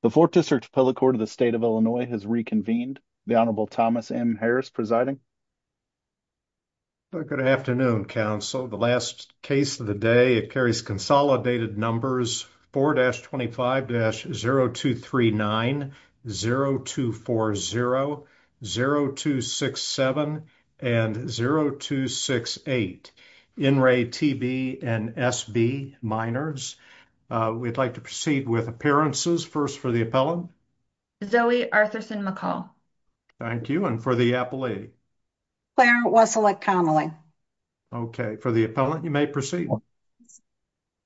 The 4th District Appellate Court of the State of Illinois has reconvened. The Honorable Thomas M. Harris presiding. Good afternoon, Council. The last case of the day, it carries consolidated numbers 4-25-0239, 0-240, 0-267, and 0-268. In Ray, T.B. and S.B. minors. We'd like to proceed with appearances first for the appellant. Zoe Arthurson McCall. Thank you. And for the appellee? Clarence Wesselick Connelly. Okay, for the appellant, you may proceed.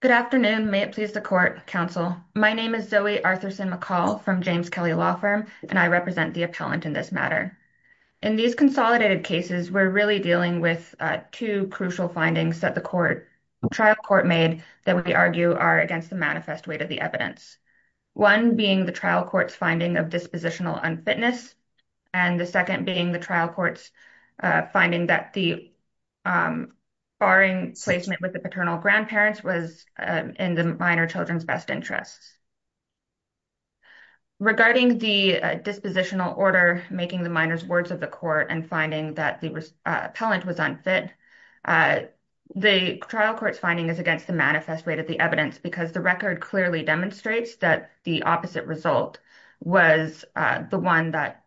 Good afternoon. May it please the Court, Council. My name is Zoe Arthurson McCall from James Kelly Law Firm, and I represent the appellant in this matter. In these consolidated cases, we're really dealing with 2 crucial findings that the trial court made that we argue are against the manifest weight of the evidence. 1 being the trial court's finding of dispositional unfitness, and the 2nd being the trial court's finding that the barring placement with the paternal grandparents was in the minor children's best interests. Regarding the dispositional order, making the minors' words of the court and finding that the appellant was unfit, the trial court's finding is against the manifest weight of the evidence because the record clearly demonstrates that the opposite result was the one that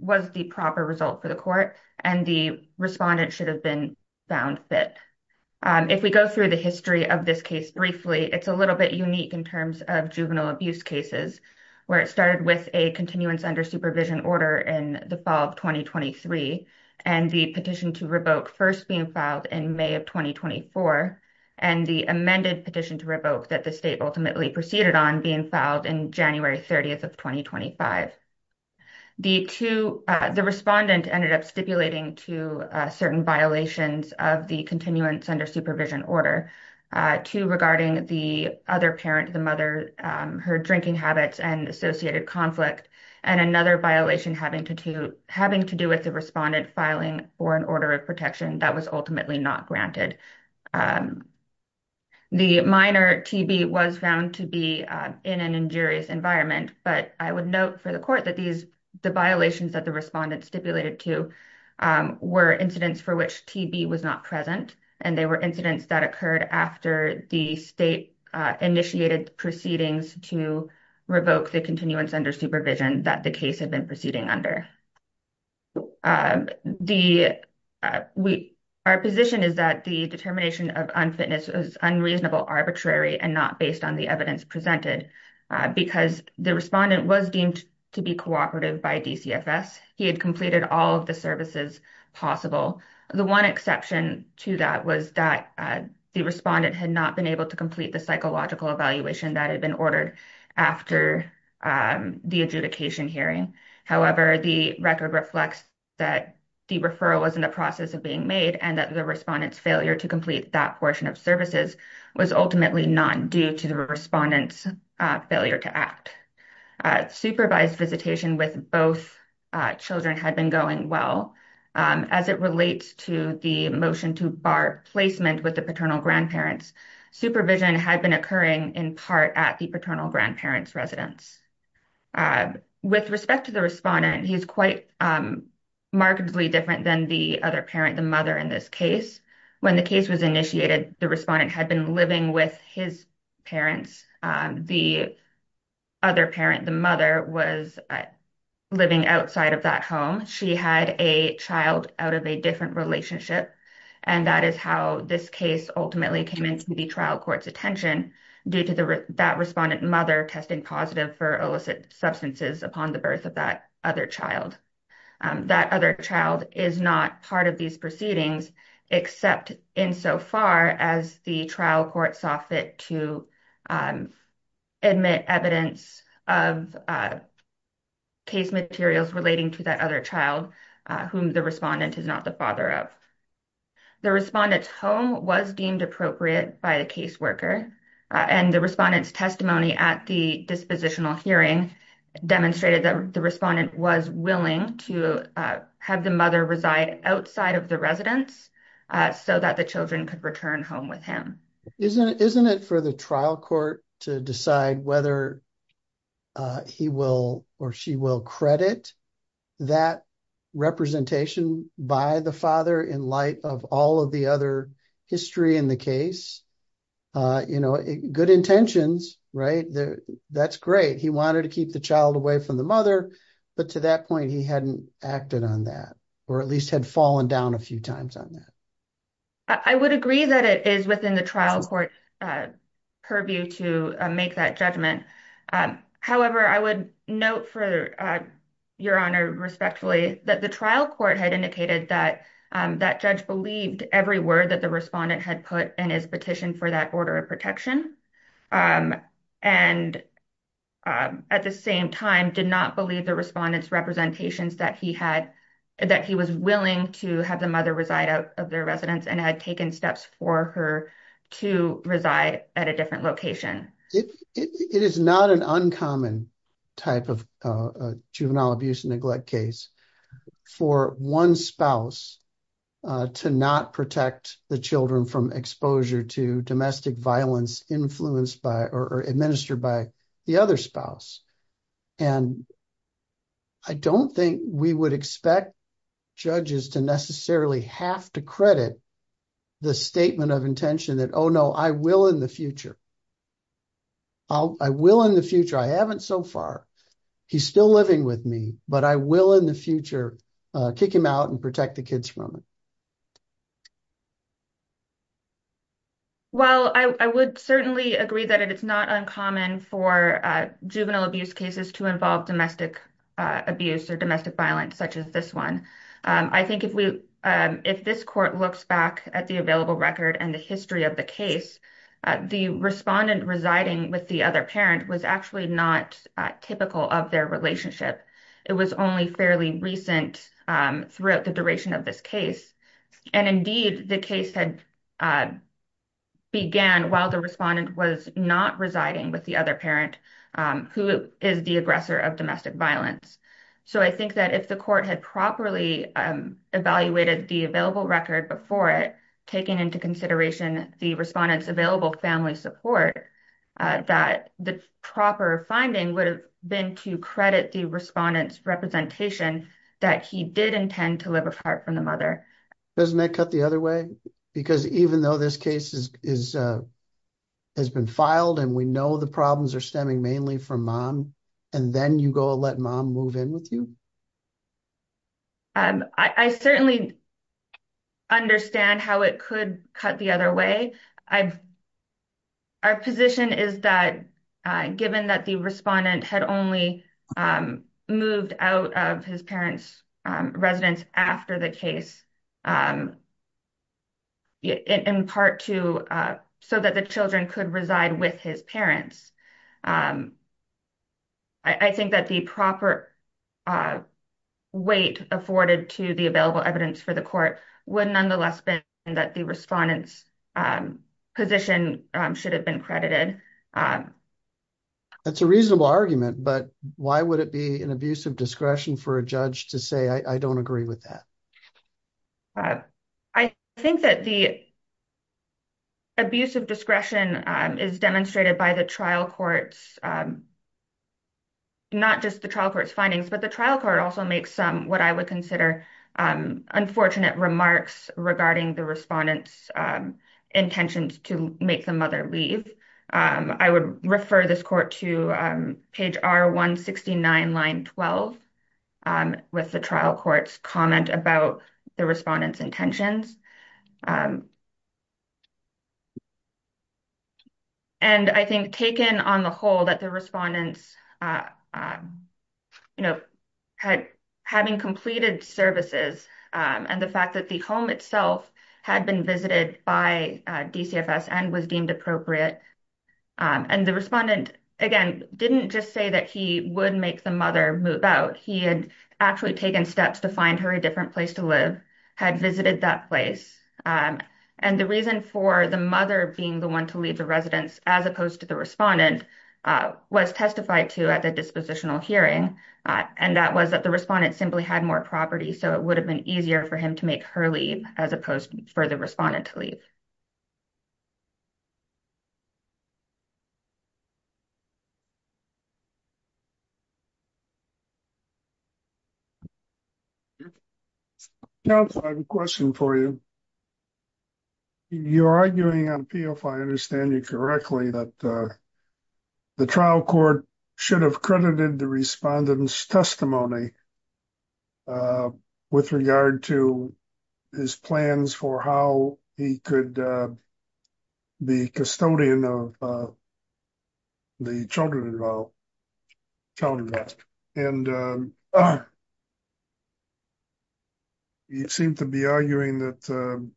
was the proper result for the court, and the respondent should have been found fit. If we go through the history of this case briefly, it's a little bit unique in terms of juvenile abuse cases, where it started with a continuance under supervision order in the fall of 2023, and the petition to revoke first being filed in May of 2024, and the amended petition to revoke that the state ultimately proceeded on being filed in January 30th of 2025. The respondent ended up stipulating to certain violations of the continuance under supervision order, 2 regarding the other parent, the mother, her drinking habits and associated conflict, and another violation having to do with the respondent filing for an order of protection that was ultimately not granted. The minor TB was found to be in an injurious environment, but I would note for the court that these, the violations that the respondent stipulated to were incidents for which TB was not present, and they were incidents that occurred after the state initiated proceedings to revoke the continuance under supervision that the case had been proceeding under. Our position is that the determination of unfitness was unreasonable, arbitrary, and not based on the evidence presented because the respondent was deemed to be cooperative by DCFS. He had completed all of the services possible. The 1 exception to that was that the respondent had not been able to complete the psychological evaluation that had been ordered after the adjudication hearing. However, the record reflects that the referral was in the process of being made and that the respondent's failure to complete that portion of services was ultimately not due to the respondent's failure to act. Supervised visitation with both children had been going well. As it relates to the motion to bar placement with the paternal grandparents, supervision had been occurring in part at the paternal grandparents' residence. With respect to the respondent, he's quite markedly different than the other parent, the mother, in this case. When the case was initiated, the respondent had been living with his parents. The other parent, the mother, was living outside of that home. She had a child out of a different relationship, and that is how this case ultimately came into the trial court's attention due to that respondent mother testing positive for TB. The other child was not tested positive for illicit substances upon the birth of that other child. That other child is not part of these proceedings except insofar as the trial court saw fit to admit evidence of case materials relating to that other child whom the respondent is not the father of. The respondent's home was deemed appropriate by the caseworker, and the respondent's testimony at the dispositional hearing demonstrated that the respondent was willing to have the mother reside outside of the residence so that the children could return home with him. Isn't it for the trial court to decide whether he will or she will credit that representation by the father in light of all of the other history in the case? You know, good intentions, right? That's great. He wanted to keep the child away from the mother, but to that point, he hadn't acted on that, or at least had fallen down a few times on that. I would agree that it is within the trial court purview to make that judgment. However, I would note for your honor, respectfully, that the trial court had indicated that that judge believed every word that the respondent had put in his petition for that order of protection. And at the same time, did not believe the respondent's representations that he had, that he was willing to have the mother reside out of their residence and had taken steps for her to reside at a different location. It is not an uncommon type of juvenile abuse and neglect case for one spouse to not protect the children from exposure to domestic violence influenced by or administered by the other spouse. And I don't think we would expect judges to necessarily have to credit the statement of intention that, oh no, I will in the future. I will in the future. I haven't so far. He's still living with me, but I will in the future kick him out and protect the kids from it. Well, I would certainly agree that it's not uncommon for juvenile abuse cases to involve domestic abuse or domestic violence, such as this one. I think if we, if this court looks back at the available record and the history of the case, the respondent residing with the other parent was actually not typical of their relationship. It was only fairly recent throughout the duration of this case. And indeed, the case had began while the respondent was not residing with the other parent, who is the aggressor of domestic violence. So I think that if the court had properly evaluated the available record before it, taking into consideration the respondent's available family support, that the proper finding would have been to credit the respondent's representation that he did intend to live apart from the mother. Doesn't that cut the other way? Because even though this case has been filed and we know the problems are stemming mainly from mom, and then you go let mom move in with you? I certainly understand how it could cut the other way. Our position is that given that the respondent had only moved out of his parents' residence after the case, in part so that the children could reside with his parents, I think that the proper weight afforded to the available evidence for the court would nonetheless be that the respondent's position should have been credited. That's a reasonable argument, but why would it be an abuse of discretion for a judge to say, I don't agree with that? I think that the abuse of discretion is demonstrated by the trial court's, not just the trial court's findings, but the trial court also makes some what I would consider unfortunate remarks regarding the respondent's intentions to make the mother leave. I would refer this court to page R169, line 12 with the trial court's comment about the respondent's intentions. And I think taken on the whole that the respondents having completed services and the fact that the home itself had been visited by DCFS and was deemed appropriate, and the respondent, again, didn't just say that he would make the mother move out. He had actually taken steps to find her a different place to live, had visited that place. And the reason for the mother being the one to leave the residence as opposed to the respondent was testified to at the dispositional hearing, and that was that the respondent simply had more property, so it would have been easier for him to make her leave as opposed for the respondent to leave. So, counsel, I have a question for you. You're arguing on appeal, if I understand you correctly, that the trial court should have credited the respondent's testimony with regard to his plans for how he could be custodian of the children involved. You seem to be arguing that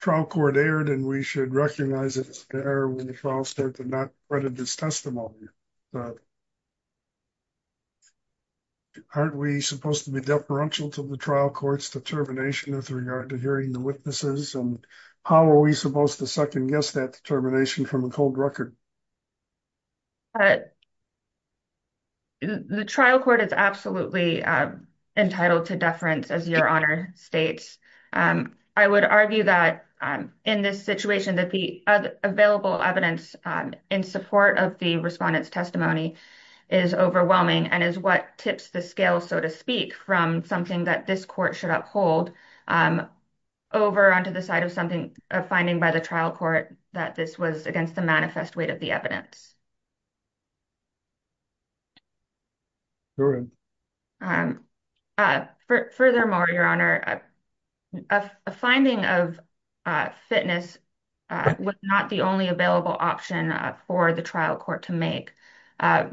trial court erred and we should recognize it as an error when the trial starts and not the respondent's testimony. Aren't we supposed to be deferential to the trial court's determination with regard to hearing the witnesses, and how are we supposed to second-guess that determination from a cold record? The trial court is absolutely entitled to deference, as your Honor states. I would argue that in this situation that the available evidence in support of the respondent's testimony is overwhelming and is what tips the scale, so to speak, from something that this court should uphold over onto the side of something, a finding by the trial court that this was against the manifest weight of the evidence. Furthermore, your Honor, a finding of fitness was not the only available option for the trial court to make.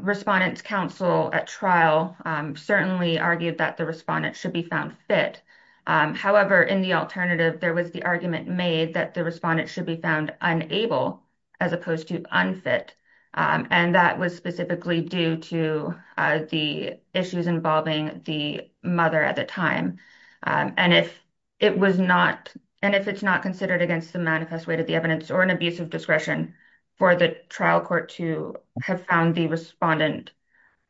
Respondent's counsel at trial certainly argued that the respondent should be found fit. However, in the alternative, there was the argument made that the respondent should be unable as opposed to unfit, and that was specifically due to the issues involving the mother at the time. If it's not considered against the manifest weight of the evidence or an abuse of discretion for the trial court to have found the respondent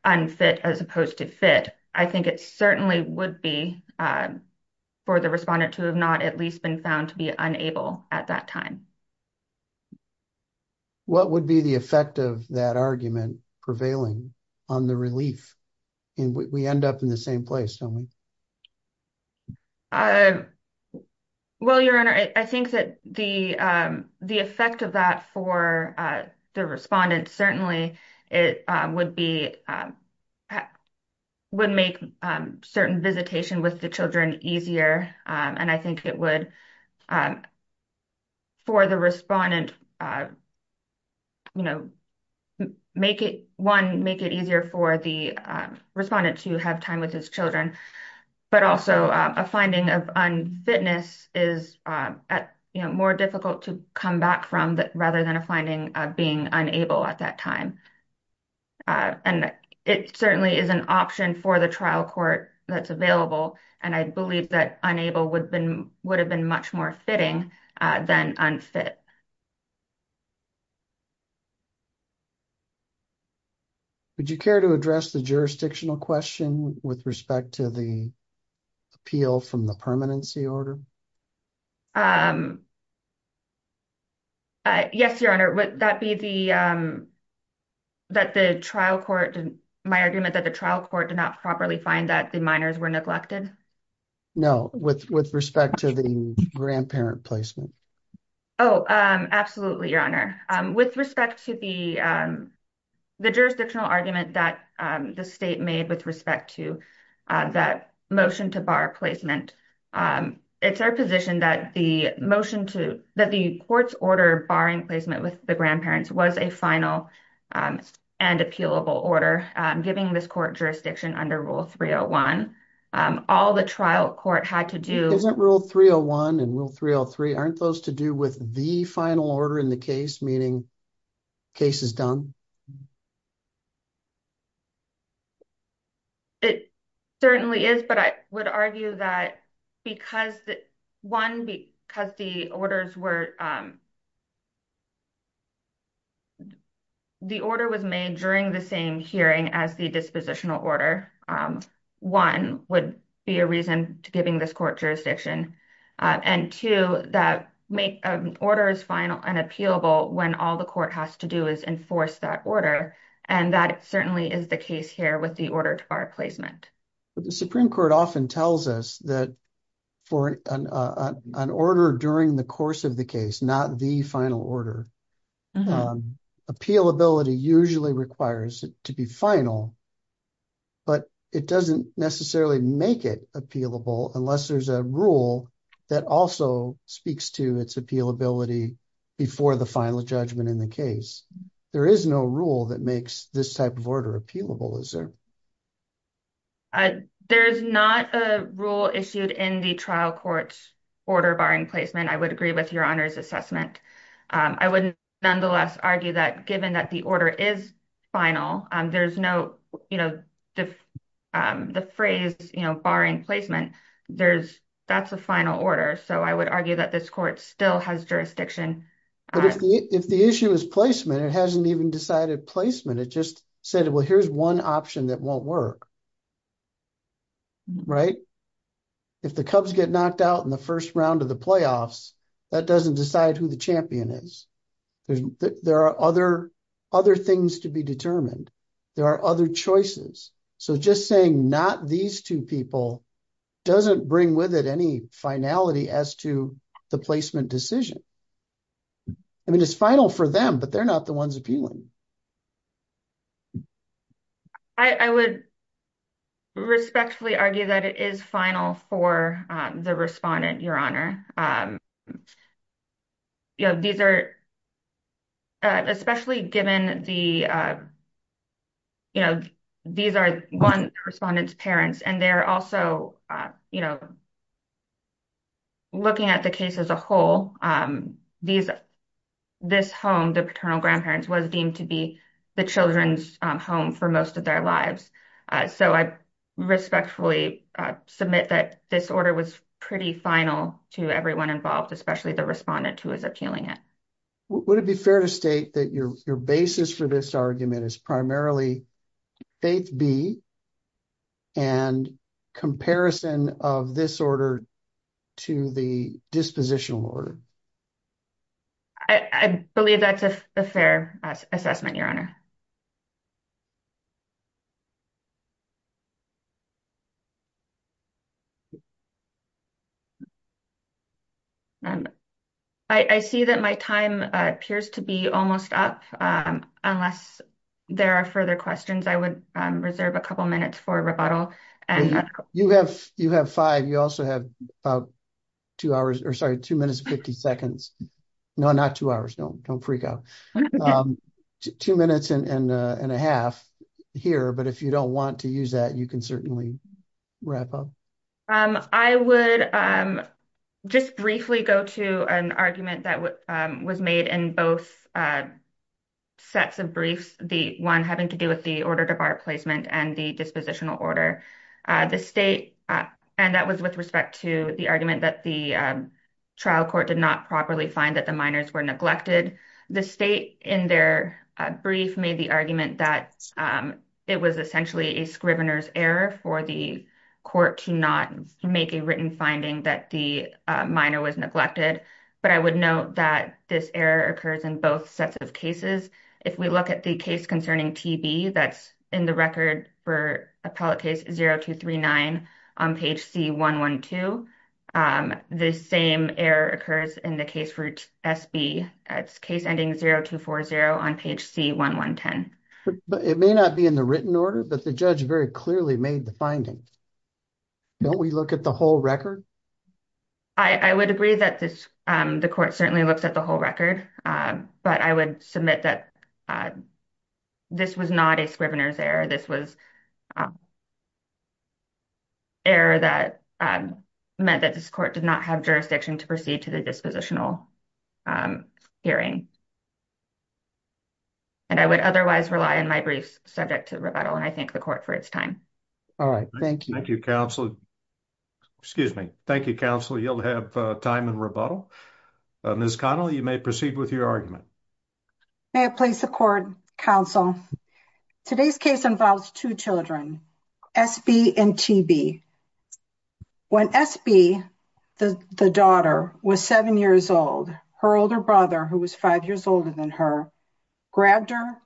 unfit as opposed to fit, I think it certainly would be for the respondent to have not at least been found to be unable at that time. What would be the effect of that argument prevailing on the relief? We end up in the same place, don't we? Well, your Honor, I think that the effect of that for the respondent certainly would make certain visitation with the children easier, and I think it would, one, make it easier for the respondent to have time with his children, but also a finding of unfitness is more difficult to come back from rather than a finding of being unable at that time. It certainly is an option for the trial court that's available, and I believe that unable would have been much more fitting than unfit. Would you care to address the jurisdictional question with respect to the appeal from the permanency order? Yes, your Honor. Would that be the, my argument that the trial court did not properly find that the minors were neglected? No, with respect to the grandparent placement. Oh, absolutely, your Honor. With respect to the jurisdictional argument that the state made with respect to that motion to bar placement, it's our position that the motion to, that the court's order barring placement with the grandparents was a final and appealable order, giving this court jurisdiction under Rule 301, all the trial court had to do. Isn't Rule 301 and Rule 303, aren't those to do with the final order in the case, meaning case is done? It certainly is, but I would argue that because, one, because the orders were, the order was made during the same hearing as the dispositional order, one would be a reason to giving this court jurisdiction, and two, that make an order as final and appealable when all the court has to do is enforce that order, and that certainly is the case here with the order bar placement. But the Supreme Court often tells us that for an order during the course of the case, not the final order, appealability usually requires it to be final, but it doesn't necessarily make it appealable unless there's a rule that also speaks to its appealability before the final judgment in the case. There is no rule that makes this type of order appealable, is there? There's not a rule issued in the trial court's order barring placement. I would agree with your Honor's assessment. I would nonetheless argue that given that the order is final, there's no, you know, the phrase, you know, barring placement, there's, that's a final order, so I would argue that this court still has jurisdiction. But if the issue is placement, it hasn't even decided placement, it just said, well, here's one option that won't work. Right? If the Cubs get knocked out in the first round of the playoffs, that doesn't decide who the champion is. There are other things to be determined. There are other choices. So just saying not these two people doesn't bring with it any finality as to the placement decision. I mean, it's final for them, but they're not the ones appealing. I would respectfully argue that it is final for the respondent, your Honor. You know, these are, especially given the, you know, these are one respondent's parents, and they're also, you know, looking at the case as a whole, these, this home, the paternal grandparents, was deemed to be the children's home for most of their lives. So I respectfully submit that this order was pretty final to everyone involved, especially the respondent who is appealing it. Would it be fair to state that your basis for this argument is primarily faith B and comparison of this order to the dispositional order? I believe that's a fair assessment, your Honor. I see that my time appears to be almost up, unless there are further questions. I would reserve a couple minutes for rebuttal. You have, you have five. You also have about two hours, or sorry, two minutes and 50 seconds. No, not two hours. Don't, don't freak out. Two minutes, and a half here, but if you don't want to use that, you can certainly wrap up. I would just briefly go to an argument that was made in both sets of briefs, the one having to do with the order to bar placement and the dispositional order. The state, and that was with respect to the argument that the trial court did not properly find that the minors were neglected. The state in their brief made the argument that it was essentially a scrivener's error for the court to not make a written finding that the minor was neglected. But I would note that this error occurs in both sets of cases. If we look at the case concerning TB, that's in the record for appellate case 0239 on page C112. The same error occurs in the case for SB. It's case ending 0240 on page C1110. But it may not be in the written order, but the judge very clearly made the finding. Don't we look at the whole record? I would agree that this, the court certainly looks at the whole record, but I would submit that this was not a scrivener's error. This was error that meant that this court did not have jurisdiction to proceed to the dispositional hearing. And I would otherwise rely on my briefs subject to rebuttal and I thank the court for its time. All right. Thank you. Thank you, counsel. Excuse me. Thank you, counsel. You'll have time rebuttal. Ms. Connell, you may proceed with your argument. May it please the court, counsel. Today's case involves two children, SB and TB. When SB, the daughter, was seven years old, her older brother, who was five years older than her, grabbed her,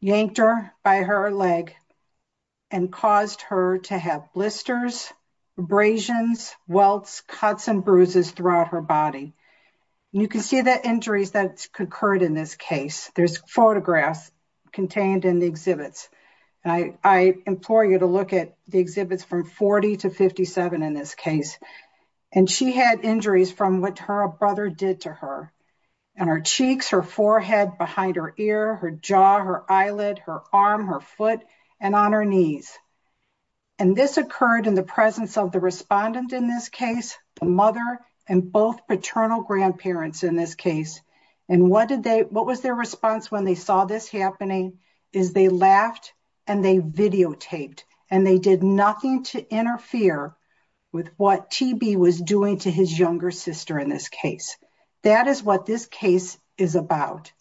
yanked her by her leg, and caused her to have blisters, abrasions, welts, cuts, and bruises throughout her body. You can see the injuries that occurred in this case. There's photographs contained in the exhibits. I implore you to look at the exhibits from 40 to 57 in this case. And she had injuries from what her brother did to her. And her cheeks, her forehead, behind her ear, her jaw, her eyelid, her arm, her foot, and on her knees. And this occurred in the presence of the respondent in this case, the mother, and both paternal grandparents in this case. And what was their response when they saw this happening is they laughed and they videotaped. And they did nothing to interfere with what TB was doing to his younger sister in this case. That is what this case is about.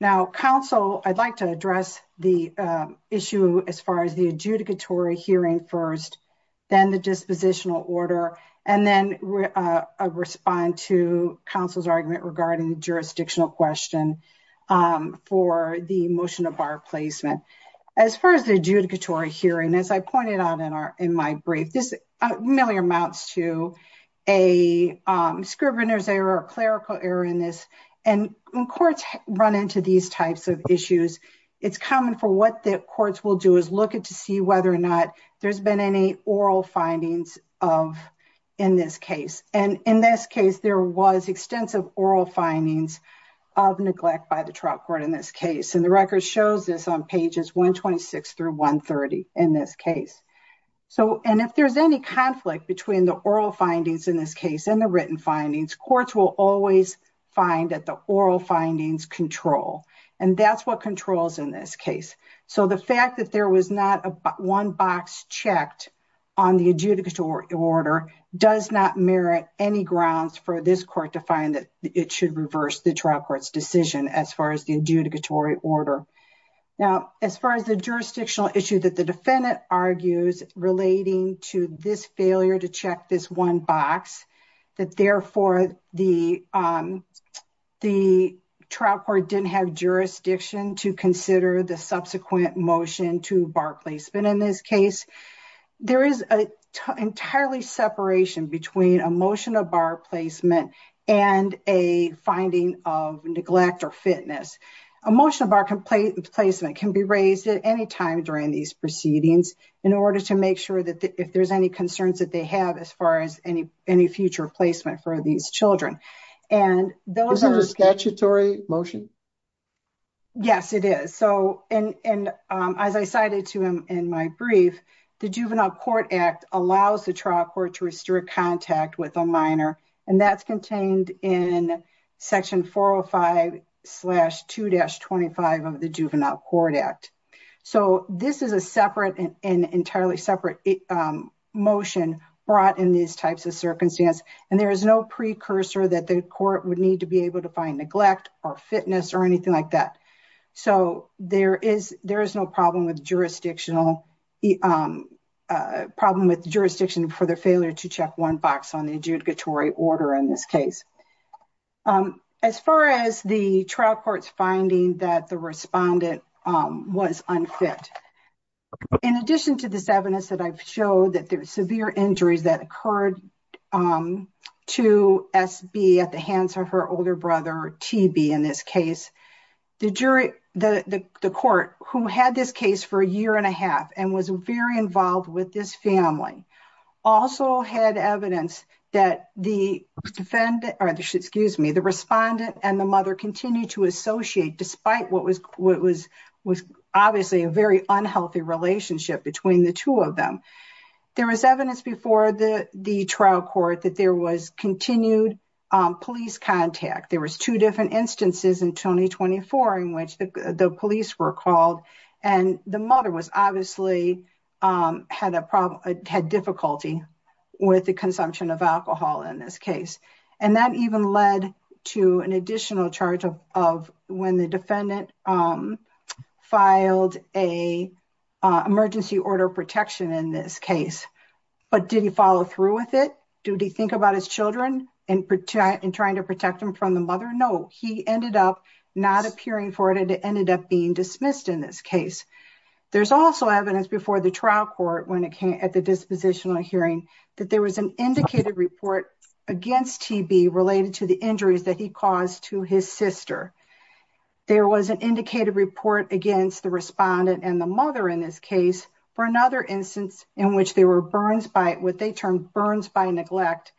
Now, counsel, I'd like to address the issue as far as the adjudicatory hearing first, then the dispositional order, and then respond to counsel's argument regarding the jurisdictional question for the motion of our placement. As far as the adjudicatory hearing, as I pointed out in my brief, this really amounts to a scrivener's error or clerical error in this. And when courts run into these types of issues, it's common for what the courts will do is look to see whether or not there's been any oral findings in this case. And in this case, there was extensive oral findings of neglect by the trial court in this case. And the record shows this on pages 126 through 130 in this case. And if there's any conflict between the oral findings in this case and the written findings, courts will always find that the oral findings control. And that's what controls in this case. So the fact that there was not one box checked on the adjudicatory order does not merit any grounds for this court to find that it should reverse the trial court's decision as far as the defendant argues relating to this failure to check this one box, that therefore, the trial court didn't have jurisdiction to consider the subsequent motion to bar placement in this case. There is an entirely separation between a motion of bar placement and a finding of neglect or negligence. A motion of bar placement can be raised at any time during these proceedings in order to make sure that if there's any concerns that they have as far as any future placement for these children. And those are statutory motion. Yes, it is. So and as I cited to him in my brief, the Juvenile Court Act allows the trial court to restrict contact with a minor and that's contained in Section 405-2-25 of the Juvenile Court Act. So this is a separate and entirely separate motion brought in these types of circumstances. And there is no precursor that the court would need to be able to find neglect or fitness or anything like that. So there is order in this case. As far as the trial court's finding that the respondent was unfit, in addition to this evidence that I've showed that there were severe injuries that occurred to S.B. at the hands of her older brother T.B. in this case, the jury, the court who had this case for a year and a half and was very involved with this family, also had evidence that the respondent and the mother continued to associate despite what was obviously a very unhealthy relationship between the two of them. There was evidence before the trial court that there was continued police contact. There was two different instances in 2024 in which the police were called and the mother obviously had difficulty with the consumption of alcohol in this case. And that even led to an additional charge of when the defendant filed an emergency order of protection in this case. But did he follow through with it? Did he think about his children in trying to protect them from the mother? No, he ended up not appearing for it and it ended up being dismissed in this case. There's also evidence before the trial court when it came at the dispositional hearing that there was an indicated report against T.B. related to the injuries that he caused to his sister. There was an indicated report against the respondent and the mother in this case for another instance in which there were burns by what they termed burns by neglect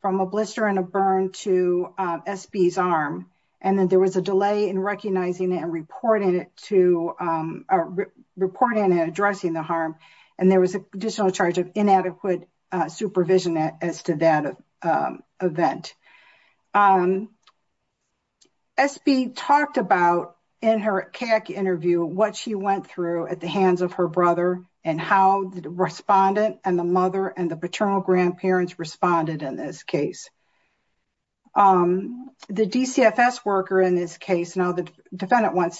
from a blister and a burn to S.B.'s arm and then there was a delay in recognizing and reporting it to reporting and addressing the harm and there was an additional charge of inadequate supervision as to that event. S.B. talked about in her CAAC interview what she went through at the hands of her brother and how the respondent and the mother and the paternal grandparents responded in this case. The DCFS worker in this case, now the defendant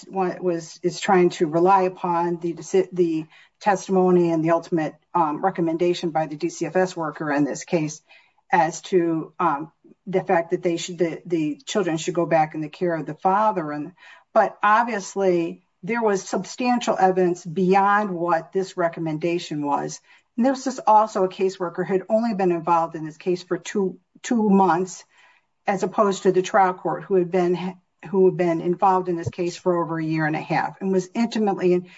is trying to rely upon the testimony and the ultimate recommendation by the DCFS worker in this case as to the fact that the children should go back in the care of the father. But obviously, there was substantial evidence beyond what this recommendation was. And this is also a case worker who had only been involved in this for two months as opposed to the trial court who had been involved in this case for over a year and a half and was intimately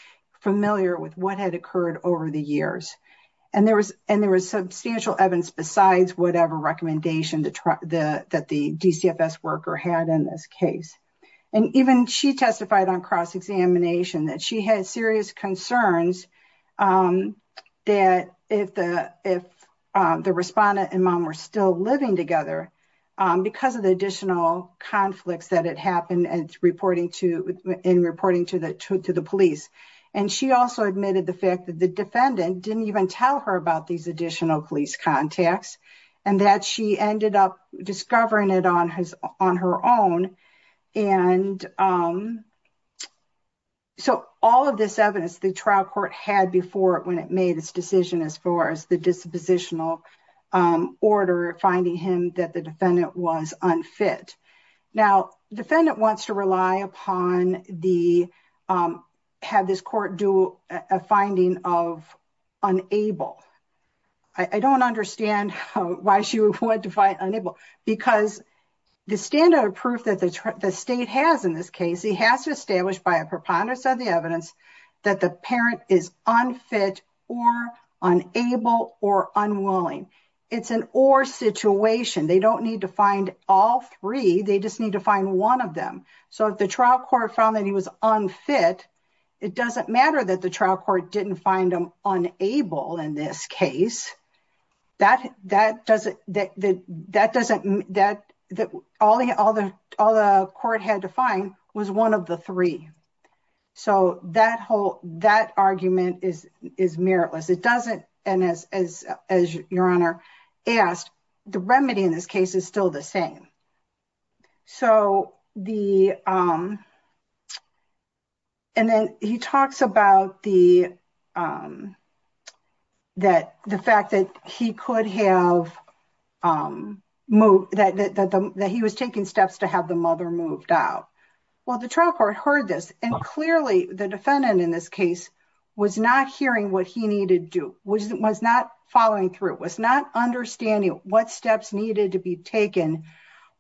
familiar with what had occurred over the years. And there was substantial evidence besides whatever recommendation that the DCFS worker had in this case. And even she testified on cross-examination that she had serious concerns that if the respondent and mom were still living together because of the additional conflicts that had happened in reporting to the police. And she also admitted the fact that the defendant didn't even tell her about these additional police contacts and that she ended up discovering it on her own. And so all of this evidence the trial court had before when it made its decision as far as the dispositional order finding him that the defendant was unfit. Now defendant wants to rely upon the have this court do a finding of unable. I don't understand why she would want to find unable because the standard of proof that the state has in this case he has to establish by preponderance of the evidence that the parent is unfit or unable or unwilling. It's an or situation. They don't need to find all three. They just need to find one of them. So if the trial court found that he was unfit, it doesn't matter that the trial court didn't find him unable in this case. That doesn't that that doesn't that that all the other all the court had to find was one of the three. So that whole that argument is is meritless. It doesn't and as as as your honor asked, the remedy in this case is still the same. So the and then he talks about the that the fact that he could have moved that that that he was taking steps to have the mother moved out. Well, the trial court heard this and clearly the defendant in this case was not hearing what he needed to do was not following through was not understanding what steps needed to be taken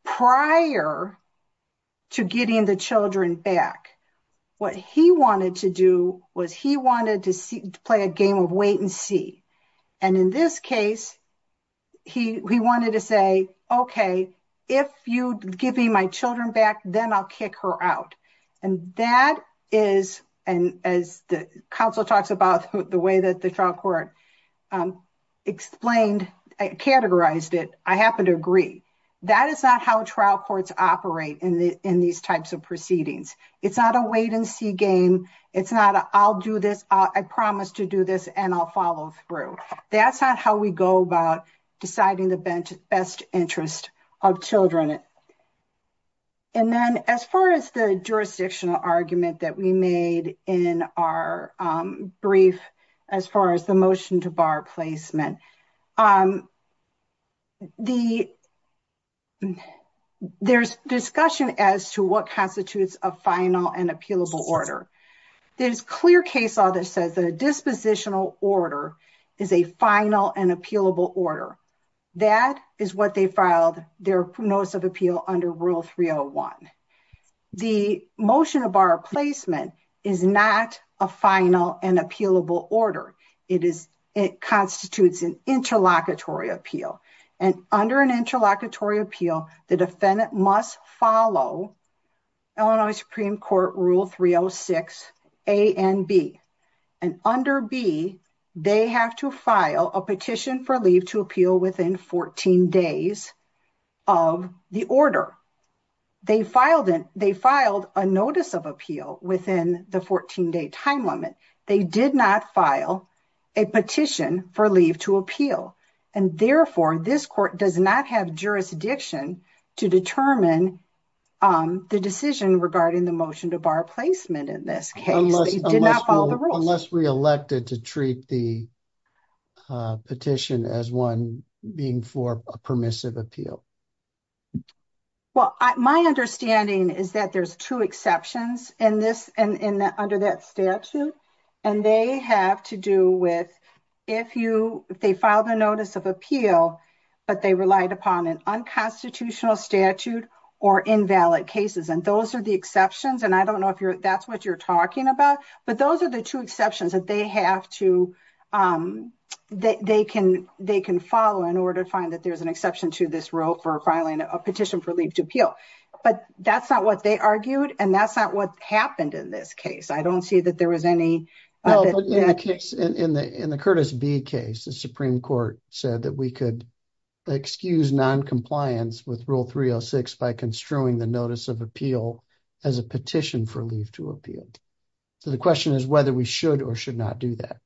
prior to getting the children back. What he wanted to do was he wanted to play a game of wait and see and in this case he he wanted to say okay if you give me my children back then I'll kick her out and that is and as the counsel talks about the way that the trial court explained I categorized it I happen to agree that is not how trial courts operate in the in these types of proceedings. It's not a wait and see game. It's not I'll do this I promise to do this and I'll follow through. That's not how we go about deciding the best interest of children. And then as far as the jurisdictional argument that we made in our brief as far as the motion to bar placement, there's discussion as to what constitutes a final and appealable order. There's clear case law that says the dispositional order is a final and appealable order. That is what they filed their notice of appeal under rule 301. The motion to bar placement is not a final and appealable order. It is it constitutes an interlocutory appeal and under an interlocutory appeal the defendant must follow Illinois Supreme Court rule 306 a and b and under b they have to file a petition for leave to appeal within 14 days of the order. They filed in they did not file a petition for leave to appeal and therefore this court does not have jurisdiction to determine the decision regarding the motion to bar placement in this case. Unless we elected to treat the petition as one being for a permissive appeal. Well, my understanding is that there's two exceptions in this and in that under that statute and they have to do with if you if they filed a notice of appeal but they relied upon an unconstitutional statute or invalid cases and those are the exceptions and I don't know if you're that's what you're talking about but those are the two exceptions that they have to um that they can they can follow in order to find that there's an exception to this rule for filing a petition for leave to appeal but that's not what they argued and that's not what happened in this case. I don't see that there was any in the Curtis B case the Supreme Court said that we could excuse non-compliance with rule 306 by construing the notice of appeal as a petition for leave to appeal. So the question is whether we should or should not do that.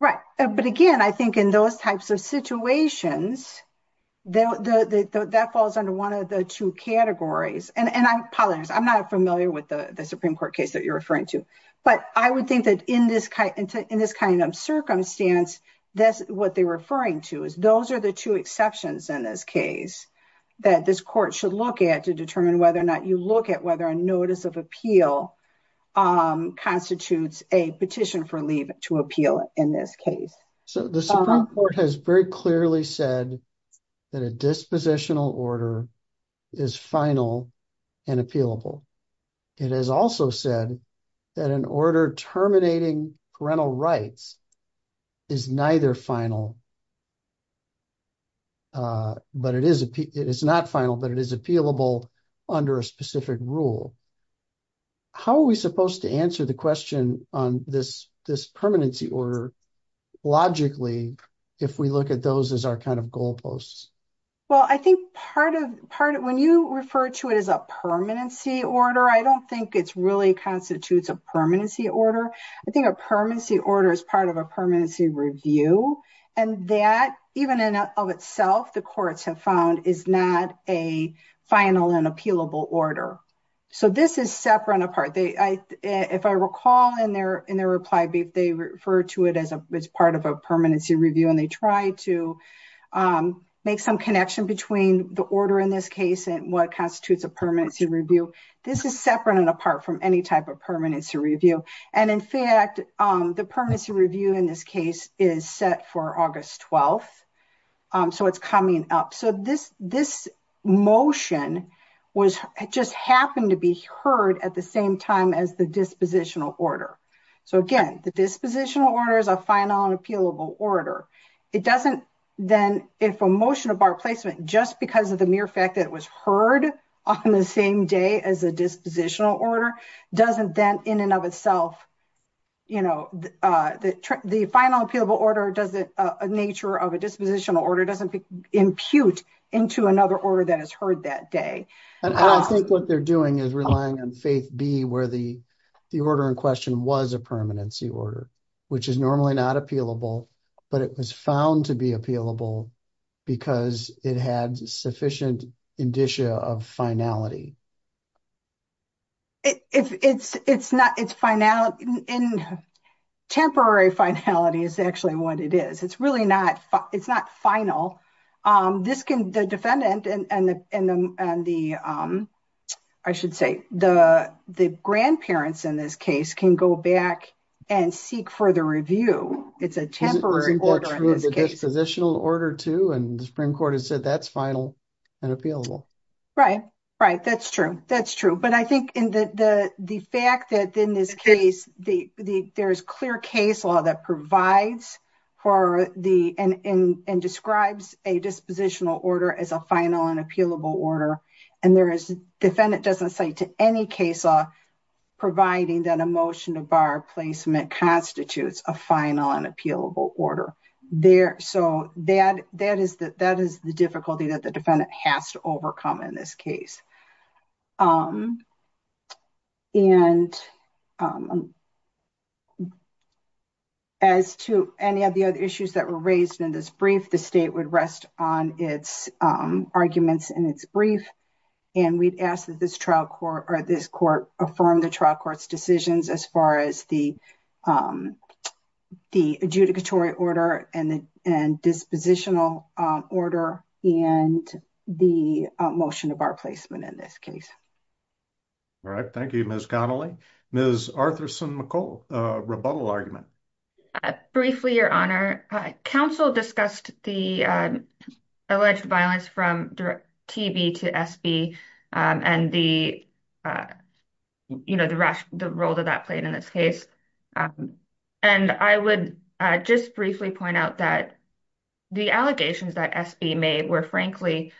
Right but again I think in those types of situations that falls under one of the two categories and I apologize I'm not familiar with the the Supreme Court case that you're referring to but I would think that in this kind of circumstance that's what they're referring to is those are the two exceptions in this case that this court should look at to determine whether or not you look at whether a notice of appeal um constitutes a petition for leave to appeal in this case. So the Supreme Court has very clearly said that a dispositional order is final and appealable. It has also said that an order terminating parental rights is neither final uh but it is it is not final but it is appealable under a specific rule. How are we supposed to answer the question on this this permanency order logically if we look at those as our kind of goal posts? Well I think part of part when you refer to it as a permanency order I don't think it's really constitutes a permanency order. I think a permanency order is part of a permanency review and that even in of itself the courts have found is not a final and appealable order. So this is separate apart they I if I recall in their in their reply they refer to it as a as part of a permanency review and they try to make some connection between the order in this case and what constitutes a permanency review. This is separate and apart from any type of permanency review and in fact the permanency review in this case is set for August 12th. So it's coming up so this this motion was just happened to be heard at the same time as the dispositional order. So again the dispositional order is a final and appealable order. It doesn't then if a motion of our placement just because of the mere fact that it was heard on the same day as a dispositional order doesn't then in and of itself you know the the final appealable order does it a nature of a dispositional order doesn't impute into another order that is heard that day. And I don't think what they're doing is relying on faith be where the the order in question was a permanency order which is normally not appealable but it was found to be appealable because it had sufficient indicia of finality. If it's it's not it's final in temporary finality is actually what it is. It's really not it's not final. This can the defendant and and the and the I should say the the grandparents in this case can go back and seek further review. It's a temporary order in this court has said that's final and appealable. Right right that's true that's true but I think in the the the fact that in this case the the there is clear case law that provides for the and in and describes a dispositional order as a final and appealable order and there is defendant doesn't say to any case law providing that a motion of our placement constitutes a final and appealable order there so that that is that that is the difficulty that the defendant has to overcome in this case. And as to any of the other issues that were raised in this brief the state would rest on its arguments in its brief and we'd ask that this trial court or this court affirm the trial court's decisions as far as the the adjudicatory order and the and dispositional order and the motion of our placement in this case. All right thank you Ms. Connelly. Ms. Arthurson-McCole, rebuttal argument. Briefly your honor council discussed the alleged violence from TB to SB and the you know the role that that played in this case and I would just briefly point out that the allegations that SB made were frankly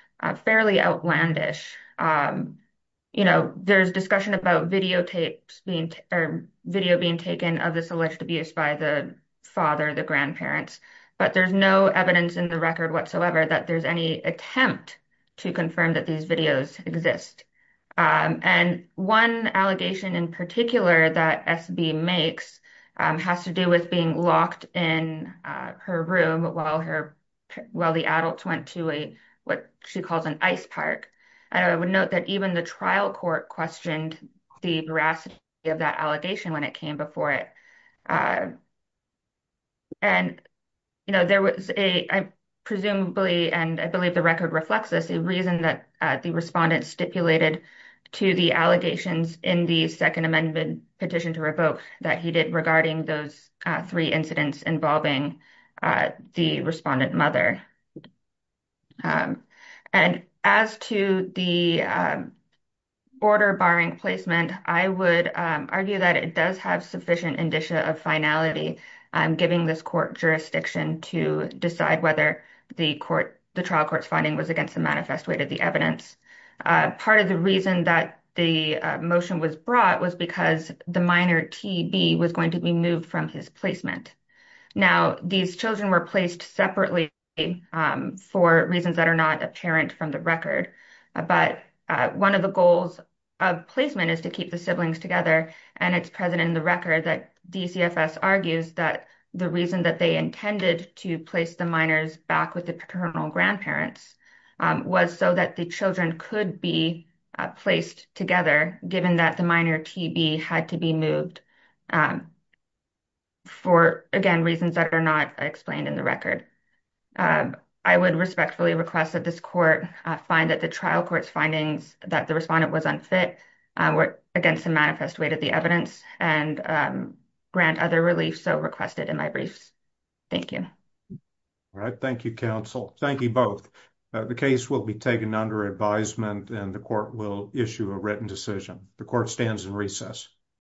fairly outlandish you know there's discussion about videotapes being or video being taken of alleged abuse by the father the grandparents but there's no evidence in the record whatsoever that there's any attempt to confirm that these videos exist and one allegation in particular that SB makes has to do with being locked in her room while her while the adults went to a what she calls an ice park and I would note that even the trial court questioned the veracity of that allegation when it came before it and you know there was a presumably and I believe the record reflects this a reason that the respondent stipulated to the allegations in the second amendment petition to revoke that he did regarding those three incidents involving the respondent and as to the order barring placement I would argue that it does have sufficient indicia of finality I'm giving this court jurisdiction to decide whether the court the trial court's finding was against the manifest way to the evidence part of the reason that the motion was brought was because the minor TB was going to be moved from his placement now these children were placed separately for reasons that are not apparent from the record but one of the goals of placement is to keep the siblings together and it's present in the record that DCFS argues that the reason that they intended to place the minors back with the paternal grandparents was so that the children could be placed together given that the minor TB had to be moved um for again reasons that are not explained in the record I would respectfully request that this court find that the trial court's findings that the respondent was unfit were against the manifest way to the evidence and grant other relief so requested in my briefs thank you all right thank you counsel thank you both the case will be taken under advisement and the court will issue a written decision the court stands in recess